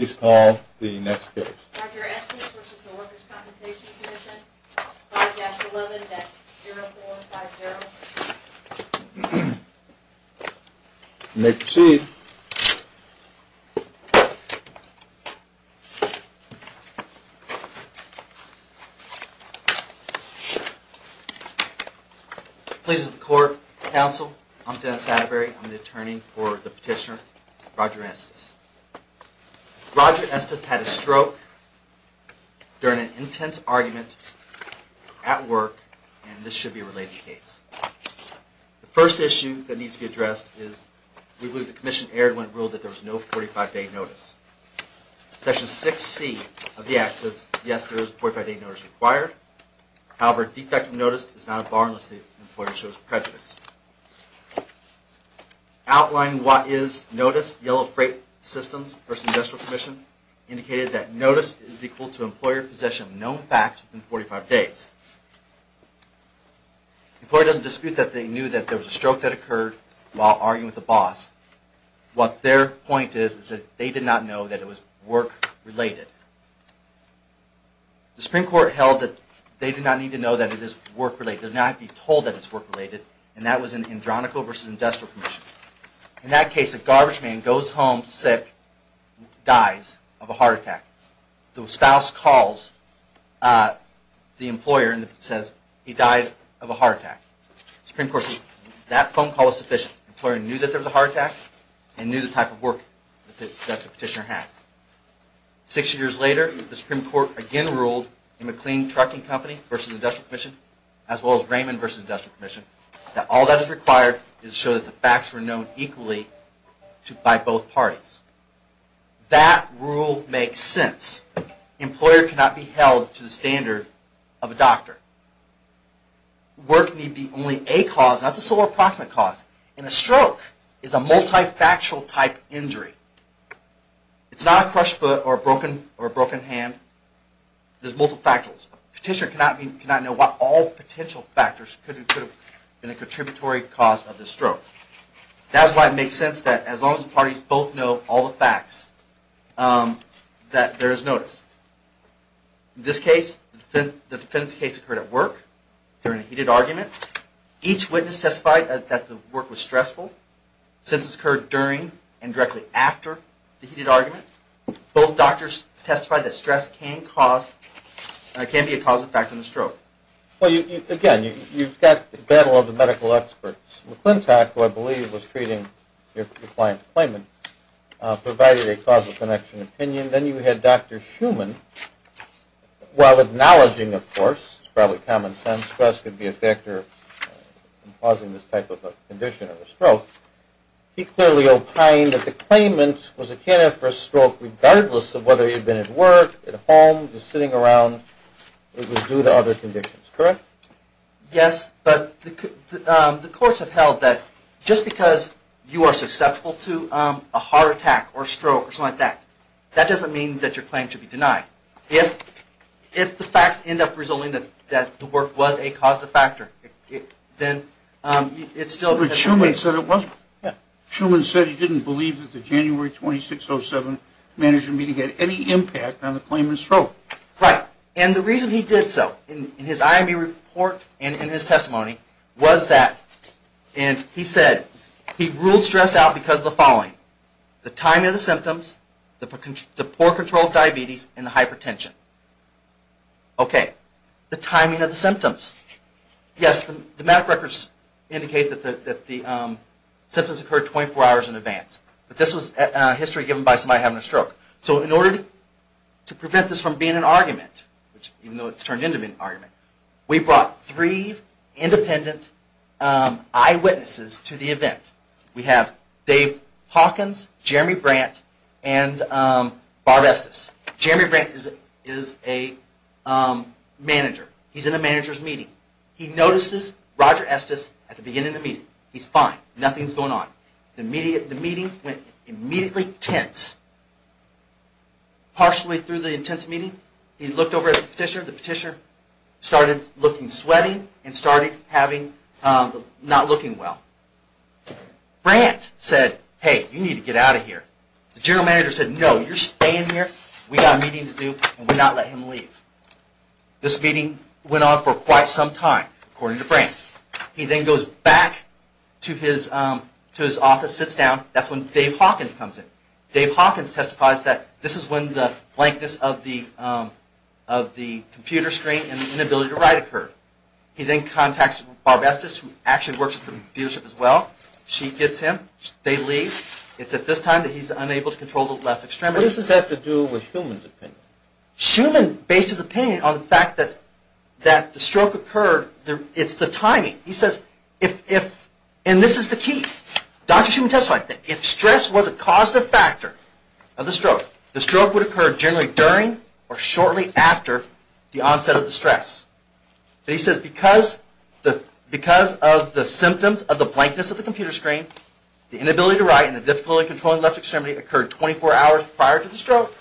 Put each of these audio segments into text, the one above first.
5-11. That's 0-4-5-0. You may proceed. Pleases the court, counsel, I'm Dennis Atterbury. I'm the attorney for the petitioner, Roger Estes had a stroke during an intense argument at work, and this should be a related case. The first issue that needs to be addressed is we believe the Commission erred when it ruled that there was no 45-day notice. Section 6c of the Act says yes, there is a 45-day notice required. However, a defective notice is not a bond unless the employer shows prejudice. Outlining what is notice, Yellow Freight Systems v. Industrial Commission indicated that notice is equal to employer possession of known facts within 45 days. The employer doesn't dispute that they knew that there was a stroke that occurred while arguing with the boss. What their point is is that they did not know that it was work-related. The Supreme Court held that they did not need to know that it is work-related. They did not need to be told that it is work-related, and that was in Andronico v. Industrial Commission. In that case, a garbage man goes home sick, dies of a heart attack. The spouse calls the employer and says he died of a heart attack. The Supreme Court says that phone call is sufficient. The employer knew that there was a heart attack and knew the type of work that the petitioner had. Six years later, the Supreme Court again ruled in McLean Trucking Company v. Industrial Commission, as well as Raymond v. Industrial Commission, that all that is required is to show that the facts were known equally by both parties. That rule makes sense. The employer cannot be held to the standard of a doctor. Work may be only a cause, not the sole or approximate cause, and a stroke is a multi-factual type injury. It's not a all potential factors could have been a contributory cause of the stroke. That's why it makes sense that as long as the parties both know all the facts, that there is notice. In this case, the defendant's case occurred at work during a heated argument. Each witness testified that the work was stressful, since it occurred during and directly after the heated argument. Both doctors testified that stress can cause, can be a causal factor in the stroke. Well, again, you've got the battle of the medical experts. McClintock, who I believe was treating your client's claimant, provided a causal connection opinion. Then you had Dr. Schuman, while acknowledging, of course, it's probably common sense, stress could be a factor in causing this type of a condition or a stroke. He clearly opined that the claimant was a candidate for a stroke regardless of whether he'd been at work, at home, just sitting around. It was due to other conditions, correct? Yes, but the courts have held that just because you are susceptible to a heart attack or a stroke or something like that, that doesn't mean that your claim should be denied. If the facts end up resulting that the work was a causal factor, then it's still... But Schuman said it wasn't. Schuman said he didn't believe that the January 26, 2007 management meeting had any impact on the claimant's stroke. Right, and the reason he did so in his IME report and in his testimony was that, and he said, he ruled stress out because of the following. The timing of the symptoms, the poor control of diabetes, and the hypertension. Okay, the timing of the symptoms. Yes, the symptoms occurred 24 hours in advance. But this was history given by somebody having a stroke. So in order to prevent this from being an argument, even though it's turned into an argument, we brought three independent eyewitnesses to the event. We have Dave Hawkins, Jeremy Brandt, and Bob Estes. Jeremy Brandt is a manager. He's in a manager's meeting. He notices Roger Estes at the beginning of the meeting. He's fine. Nothing's going on. The meeting went immediately tense. Partially through the intense meeting, he looked over at the petitioner. The petitioner started looking sweaty and started having, not looking well. Brandt said, hey, you need to get out of here. The general manager said, no, you're staying here. We got a meeting to do and we're not letting him leave. This meeting went on for quite some time, according to Brandt. He then goes back to his office, sits down. That's when Dave Hawkins comes in. Dave Hawkins testifies that this is when the blankness of the computer screen and the inability to write occurred. He then contacts Bob Estes, who actually works at the dealership as well. She gets him. They leave. It's at this time that he's unable to control the left extremity. What does this have to do with Schumann's opinion? Schumann based his opinion on the fact that the stroke occurred. It's the timing. He says, and this is the key. Dr. Schumann testified that if stress was a causative factor of the stroke, the stroke would occur generally during or shortly after the onset of the stress. He says because of the symptoms of the blankness of the computer screen, the inability to write and the difficulty in controlling the left extremity occurred 24 hours prior to the stroke,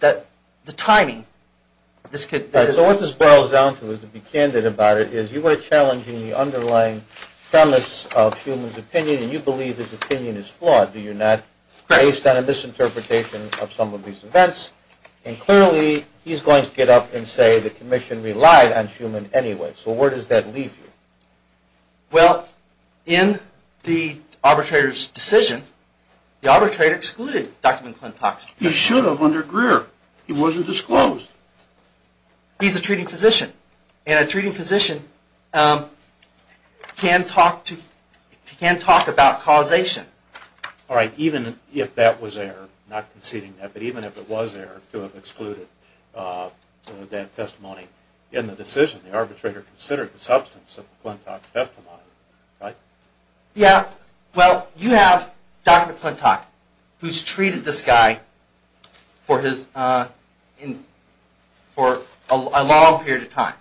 that the timing. So what this boils down to, to be candid about it, is you were challenging the underlying premise of Schumann's opinion and you believe his opinion is flawed, do you not? Correct. Based on a misinterpretation of some of these events. And clearly, he's going to get up and say the commission relied on Schumann anyway. So where does that leave you? Well, in the arbitrator's decision, the arbitrator excluded Dr. McClintock's testimony. He should have under Greer. He wasn't disclosed. He's a treating physician. And a treating physician can talk about causation. Alright, even if that was error, not conceding that, but even if it was error to have excluded that testimony in the decision, the arbitrator considered the substance of McClintock's testimony. Yeah, well, you have Dr. McClintock, who's treated this guy for a long period of time.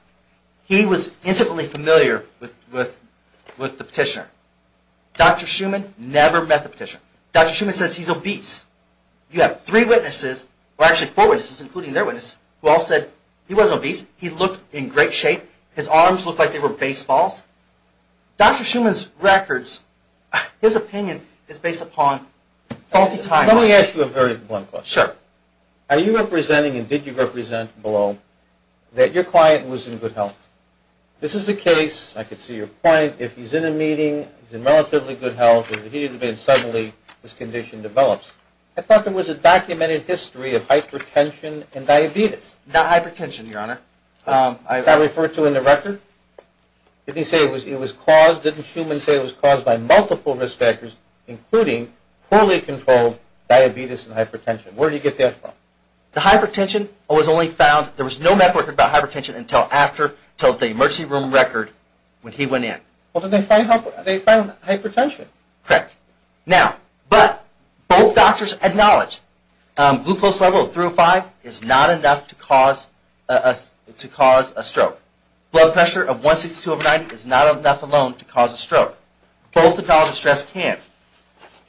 He was intimately familiar with the petitioner. Dr. Schumann never met the petitioner. Dr. Schumann says he's obese. You have three witnesses, or actually four witnesses, including their witness, who all said he wasn't obese. He looked in great shape. His arms looked like they were baseballs. Dr. Schumann's records, his opinion is based upon faulty time. Let me ask you a very blunt question. Sure. Are you representing and did you represent below that your client was in good health? This is a case, I could see your point, if he's in a meeting, he's in relatively good health, and then suddenly his condition develops. I thought there was a documented history of hypertension and diabetes. Not hypertension, your honor. Is that referred to in the record? Did he say it was caused, didn't Schumann say it was caused by multiple risk factors, including poorly controlled diabetes and hypertension? Where do you get that from? The hypertension was only found, there was no medical record about hypertension until after, until the emergency room record, when he went in. Well, then they found hypertension. Correct. Now, but both doctors acknowledge glucose level of 305 is not enough to cause a stroke. Blood pressure of 162 over 90 is not enough alone to cause a stroke. Both acknowledge the stress can.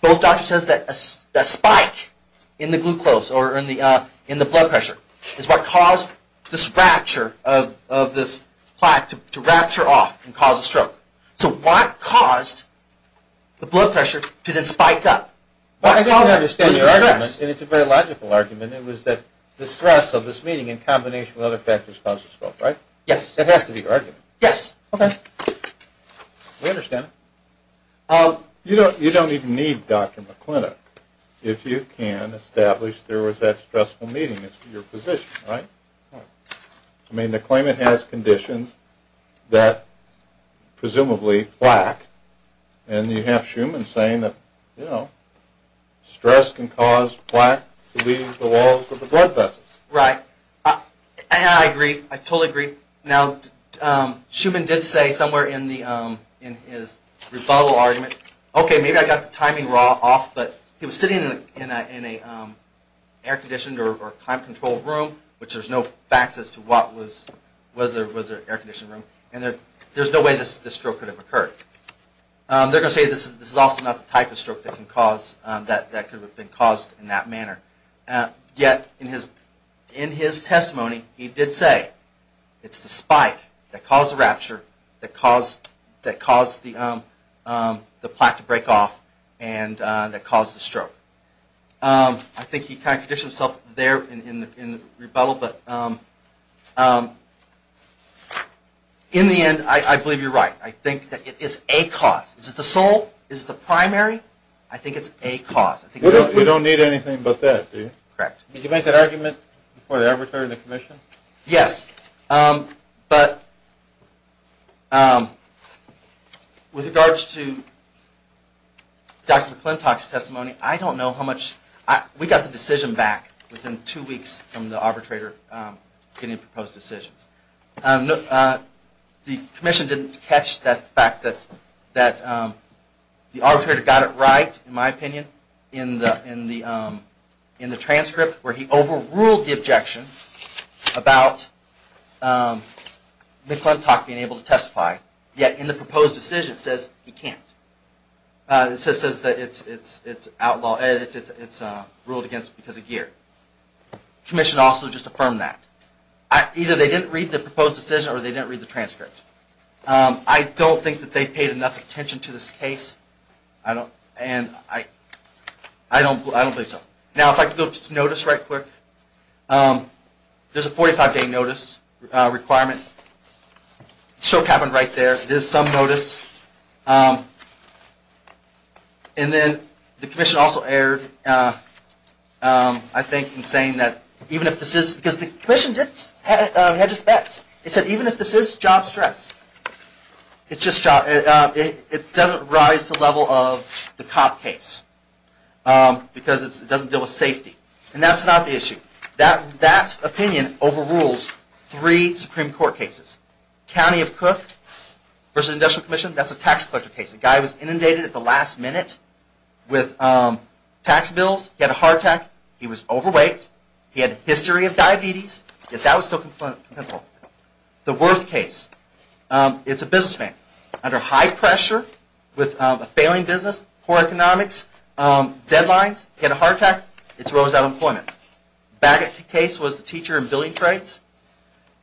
Both doctors says that a spike in the glucose or in the blood pressure is what caused this rapture of this plaque to rapture off and cause a stroke. So what caused the blood pressure to then spike up? I don't understand your argument, and it's a very logical argument, it was that the stress of this meeting in combination with other factors caused the stroke, right? Yes. It has to be your argument. Yes. Okay. We understand it. You don't even need Dr. McClintock if you can establish there was that stressful meeting. It's your position, right? I mean, the claimant has conditions that presumably plaque, and you have Schumann saying that, you know, stress can cause plaque to leave the walls of the blood vessels. Right. I agree. I totally agree. Now, Schumann did say somewhere in the, in his rebuttal argument, okay, maybe I got the timing wrong off, but he was sitting in an air conditioned or time controlled room, which there's no facts as to what was, was there an air conditioned room, and there's no way this stroke could have occurred. They're going to say this is also not the type of stroke that can cause, that could have been caused in that manner. Yet, in his testimony, he did say it's the spike that caused the rapture, that caused the plaque to break off, and that caused the stroke. I think he kind of conditioned himself there in the rebuttal, but in the end, I believe you're right. I think that it is a cause. Is it the sole? Is it the primary? I think it's a cause. You don't need anything but that, do you? Correct. Did you make that argument before they ever turned the commission? Yes, but with regards to Dr. McClintock's testimony, I don't know how much, we got the decision back within two weeks from the arbitrator getting proposed decisions. The commission didn't catch the fact that the arbitrator got it right, in my opinion, in the transcript, where he overruled the objection about McClintock being able to testify. Yet, in the proposed decision, it says he can't. It says that it's ruled against because of gear. The commission also just affirmed that. Either they didn't read the proposed decision, or they didn't read the transcript. I don't think that they paid enough attention to this case. I don't believe so. Now, if I could go to notice right quick. There's a 45-day notice requirement. The stroke happened right there. There's some notice. And then, the commission also erred, I think, in saying that even if this is, because the doesn't rise to the level of the cop case, because it doesn't deal with safety. And that's not the issue. That opinion overrules three Supreme Court cases. County of Cook versus the Industrial Commission, that's a tax collector case. The guy was inundated at the last minute with tax bills. He had a heart attack. He was overweight. He had a history of diabetes. Yet, that was still compensable. The Worth case. It's a businessman. Under high pressure with a failing business, poor economics, deadlines, he had a heart attack. It's rose out of employment. Bagot case was the teacher in billing trades.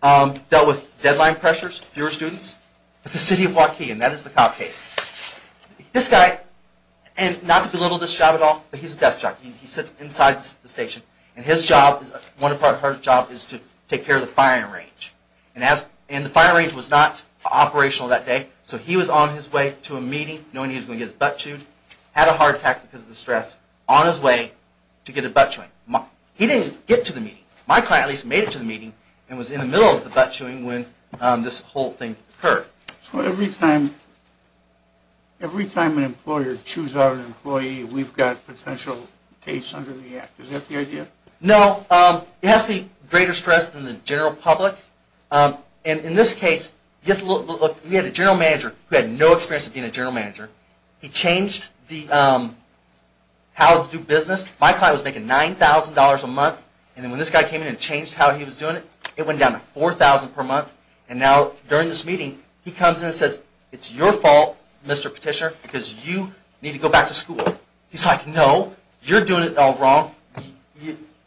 Dealt with deadline pressures, fewer students. But the city of Waukegan, that is the cop case. This guy, and not to belittle this job at all, but he's a desk jock. He sits inside the station. And his job, one part of his job, is to take care of the firing range. And the firing range was not operational that day, so he was on his way to a meeting, knowing he was going to get his butt chewed. Had a heart attack because of the stress. On his way to get a butt chewing. He didn't get to the meeting. My client at least made it to the meeting and was in the middle of the butt chewing when this whole thing occurred. So every time an employer chews out an employee, we've got potential case under the act. No, it has to be greater stress than the general public. In this case, we had a general manager who had no experience of being a general manager. He changed how to do business. My client was making $9,000 a month. And when this guy came in and changed how he was doing it, it went down to $4,000 per month. And now, during this meeting, he comes in and says, It's your fault, Mr. Petitioner, because you need to go back to school. He's like, No, you're doing it all wrong.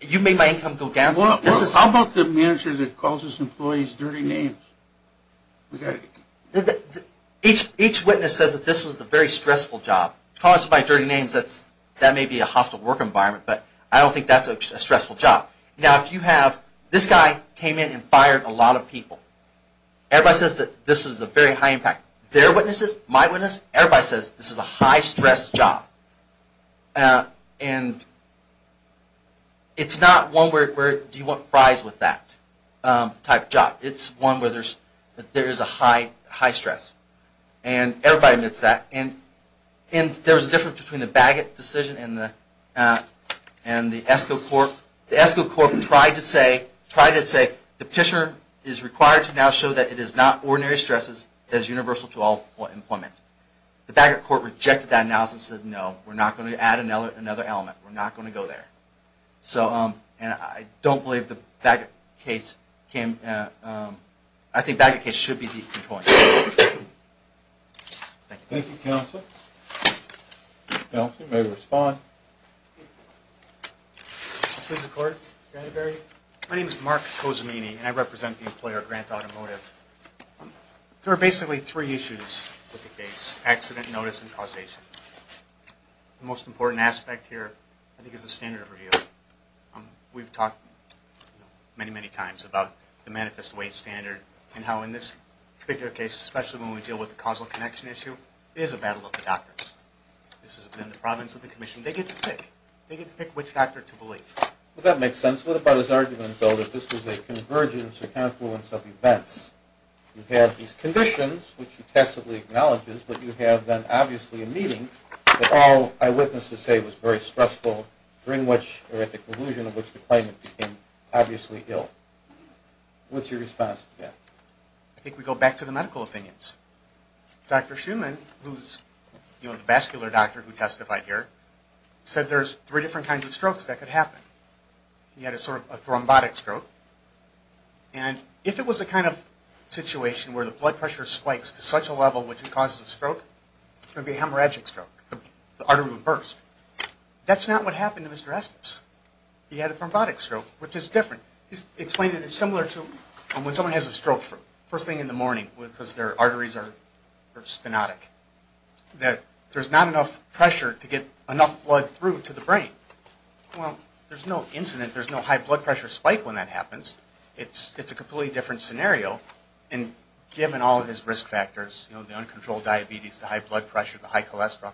You made my income go down. How about the manager that calls his employees dirty names? Each witness says that this was a very stressful job. Calling us by dirty names, that may be a hostile work environment, but I don't think that's a stressful job. This guy came in and fired a lot of people. Everybody says that this is a very high impact. Their witnesses, my witnesses, everybody says this is a high stress job. And it's not one where do you want fries with that type of job. It's one where there is a high stress. And everybody admits that. And there was a difference between the Bagot decision and the ESCO court. The ESCO court tried to say, The Petitioner is required to now show that it is not ordinary stresses. It is universal to all employment. The Bagot court rejected that analysis and said, No, we're not going to add another element. We're not going to go there. And I don't believe the Bagot case came. I think the Bagot case should be the controlling case. Thank you. Thank you, Counselor. Counselor, you may respond. Please record. My name is Mark Cozumini, and I represent the employer, Grant Automotive. There are basically three issues with the case, accident, notice, and causation. The most important aspect here, I think, is the standard of review. We've talked many, many times about the manifest way standard and how in this particular case, especially when we deal with the causal connection issue, it is a battle of the doctors. This is in the province of the commission. They get to pick. They get to pick which doctor to believe. Well, that makes sense. What about his argument, though, that this was a convergence or confluence of events? You have these conditions, which he passively acknowledges, but you have then obviously a meeting that all eyewitnesses say was very stressful, during which, or at the conclusion of which, the claimant became obviously ill. What's your response to that? I think we go back to the medical opinions. Dr. Shuman, who's the vascular doctor who testified here, said there's three different kinds of strokes that could happen. He had a sort of a thrombotic stroke, and if it was the kind of situation where the blood pressure spikes to such a level which it causes a stroke, it would be a hemorrhagic stroke, the artery would burst. That's not what happened to Mr. Estes. He had a thrombotic stroke, which is different. He explained it is similar to when someone has a stroke first thing in the morning because their arteries are spinotic, that there's not enough pressure to get enough blood through to the brain. Well, there's no incident. There's no high blood pressure spike when that happens. It's a completely different scenario, and given all of his risk factors, you know, the uncontrolled diabetes, the high blood pressure, the high cholesterol,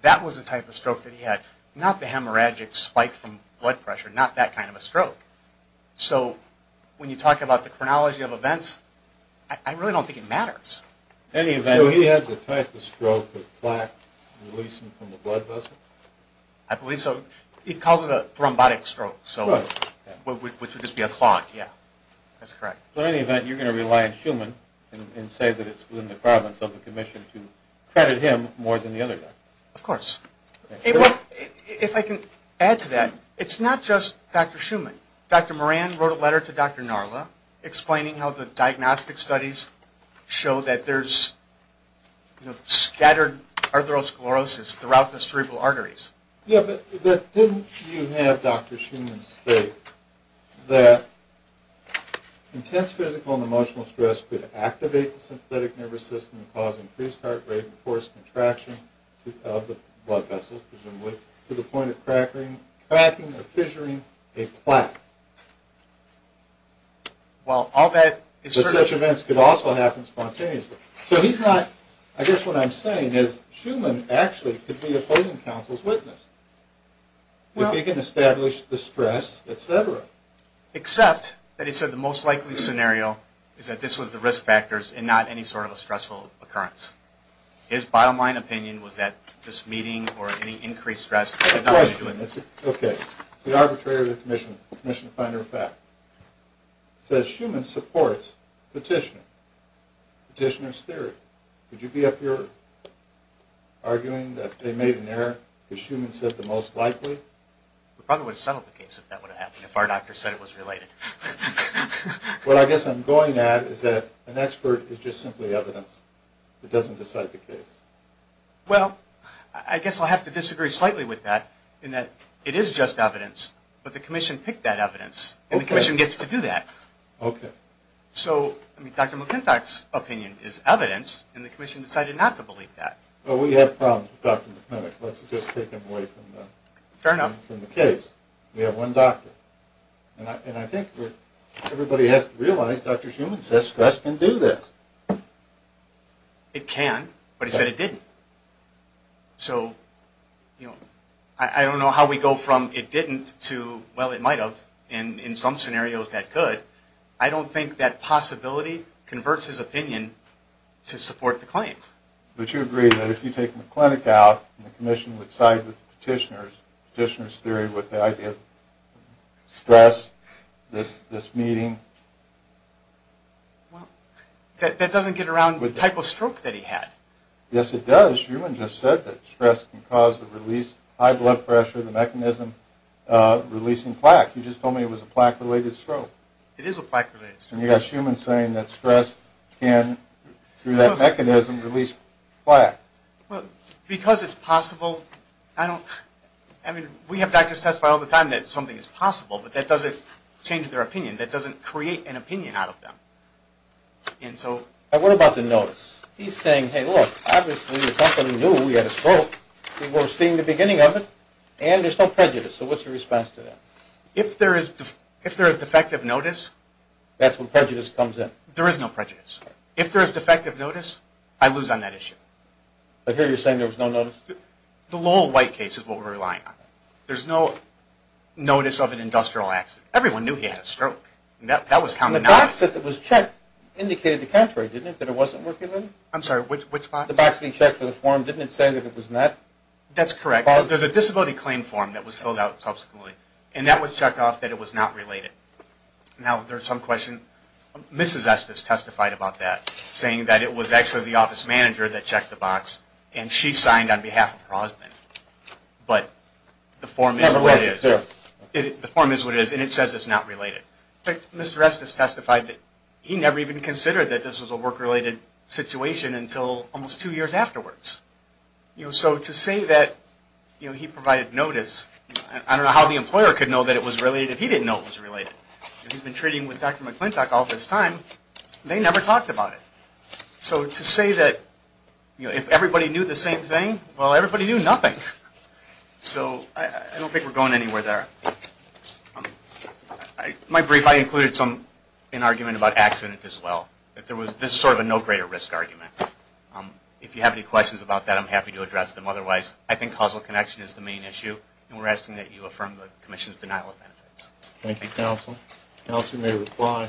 that was the type of stroke that he had, not the hemorrhagic spike from blood pressure, not that kind of a stroke. So when you talk about the chronology of events, I really don't think it matters. So he had the type of stroke of plaque releasing from the blood vessel? I believe so. He calls it a thrombotic stroke, which would just be a clot, yeah. That's correct. So in any event, you're going to rely on Shuman and say that it's within the province of the commission to credit him more than the other doctor? Of course. If I can add to that, it's not just Dr. Shuman. Dr. Moran wrote a letter to Dr. Narla explaining how the diagnostic studies show that there's scattered atherosclerosis throughout the cerebral arteries. Yeah, but didn't you have Dr. Shuman state that intense physical and emotional stress could activate the synthetic nervous system causing increased heart rate and forced contraction of the blood vessels, presumably, to the point of cracking or fissuring a plaque? Well, all that is certain. But such events could also happen spontaneously. So he's not – I guess what I'm saying is Shuman actually could be a clothing council's witness. If he can establish the stress, et cetera. Except that he said the most likely scenario is that this was the risk factors and not any sort of a stressful occurrence. His bottom line opinion was that this meeting or any increased stress could not be true. Okay. The arbitrator of the commission, the commission finder of fact, says Shuman supports petitioner's theory. Would you be of your arguing that they made an error because Shuman said the most likely? We probably would have settled the case if that would have happened, if our doctor said it was related. What I guess I'm going at is that an expert is just simply evidence. It doesn't decide the case. Well, I guess I'll have to disagree slightly with that in that it is just evidence, but the commission picked that evidence, and the commission gets to do that. Okay. So Dr. McClintock's opinion is evidence, and the commission decided not to believe that. Well, we have problems with Dr. McClintock. Let's just take him away from the case. We have one doctor. And I think everybody has to realize Dr. Shuman says stress can do this. It can, but he said it didn't. So, you know, I don't know how we go from it didn't to, well, it might have, and in some scenarios that could. I don't think that possibility converts his opinion to support the claim. But you agree that if you take McClintock out, the commission would side with the petitioner's theory with the idea of stress, this meeting. Well, that doesn't get around the type of stroke that he had. Yes, it does. Shuman just said that stress can cause the release of high blood pressure, the mechanism releasing plaque. You just told me it was a plaque-related stroke. It is a plaque-related stroke. And you got Shuman saying that stress can, through that mechanism, release plaque. Well, because it's possible, I don't, I mean, we have doctors testify all the time that something is possible, but that doesn't change their opinion. That doesn't create an opinion out of them. And so. What about the notice? He's saying, hey, look, obviously the company knew we had a stroke. We were seeing the beginning of it, and there's no prejudice. So what's your response to that? If there is defective notice. That's when prejudice comes in. There is no prejudice. If there is defective notice, I lose on that issue. But here you're saying there was no notice? The Lowell White case is what we're relying on. There's no notice of an industrial accident. Everyone knew he had a stroke. That was counted on. The box that was checked indicated the contrary, didn't it, that it wasn't working? I'm sorry, which box? The box that you checked for the form, didn't it say that it was not? That's correct. There's a disability claim form that was filled out subsequently, and that was checked off that it was not related. Now, there's some question. Mrs. Estes testified about that, saying that it was actually the office manager that checked the box, and she signed on behalf of Prosman. But the form is what it is, and it says it's not related. Mr. Estes testified that he never even considered that this was a work-related situation until almost two years afterwards. So to say that he provided notice, I don't know how the employer could know that it was related if he didn't know it was related. He's been treating with Dr. McClintock all this time. They never talked about it. So to say that if everybody knew the same thing, well, everybody knew nothing. So I don't think we're going anywhere there. My brief, I included an argument about accident as well. This is sort of a no greater risk argument. If you have any questions about that, I'm happy to address them. Otherwise, I think causal connection is the main issue, and we're asking that you affirm the Commission's denial of benefits. Thank you, Counsel. Counsel may reply.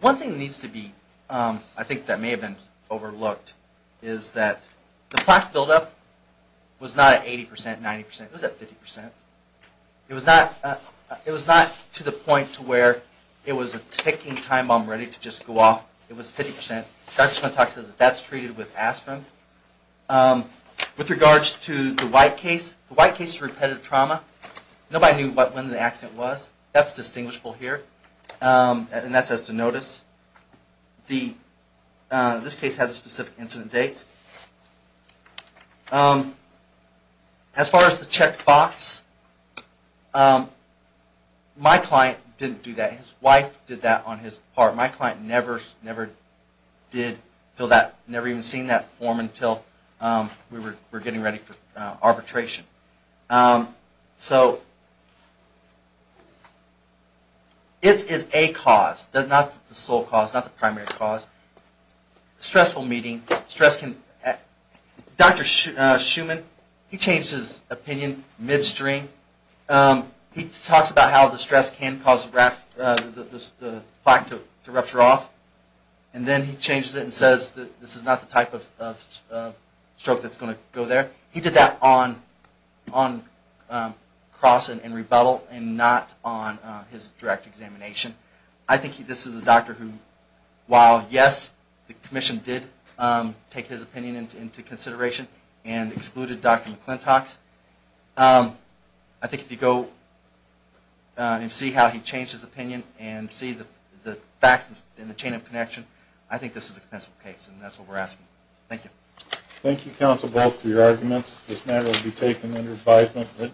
One thing that needs to be, I think that may have been overlooked, is that the plaque buildup was not at 80 percent, 90 percent. It was at 50 percent. It was not to the point to where it was a ticking time bomb ready to just go off. It was 50 percent. Dr. McClintock says that that's treated with aspirin. With regards to the White case, the White case is repetitive trauma. Nobody knew when the accident was. That's distinguishable here, and that says to notice. This case has a specific incident date. As far as the checkbox, my client didn't do that. His wife did that on his part. My client never even seen that form until we were getting ready for arbitration. It is a cause, not the sole cause, not the primary cause. Stressful meeting. Dr. Schumann, he changed his opinion midstream. He talks about how the stress can cause the plaque to rupture off, and then he changes it and says that this is not the type of stroke that's going to go there. He did that on cross and rebuttal and not on his direct examination. I think this is a doctor who, while yes, the commission did take his opinion into consideration and excluded Dr. McClintock's, I think if you go and see how he changed his opinion and see the facts in the chain of connection, I think this is a compensable case, and that's what we're asking. Thank you. Thank you, counsel, both for your arguments. This matter will be taken under advisement.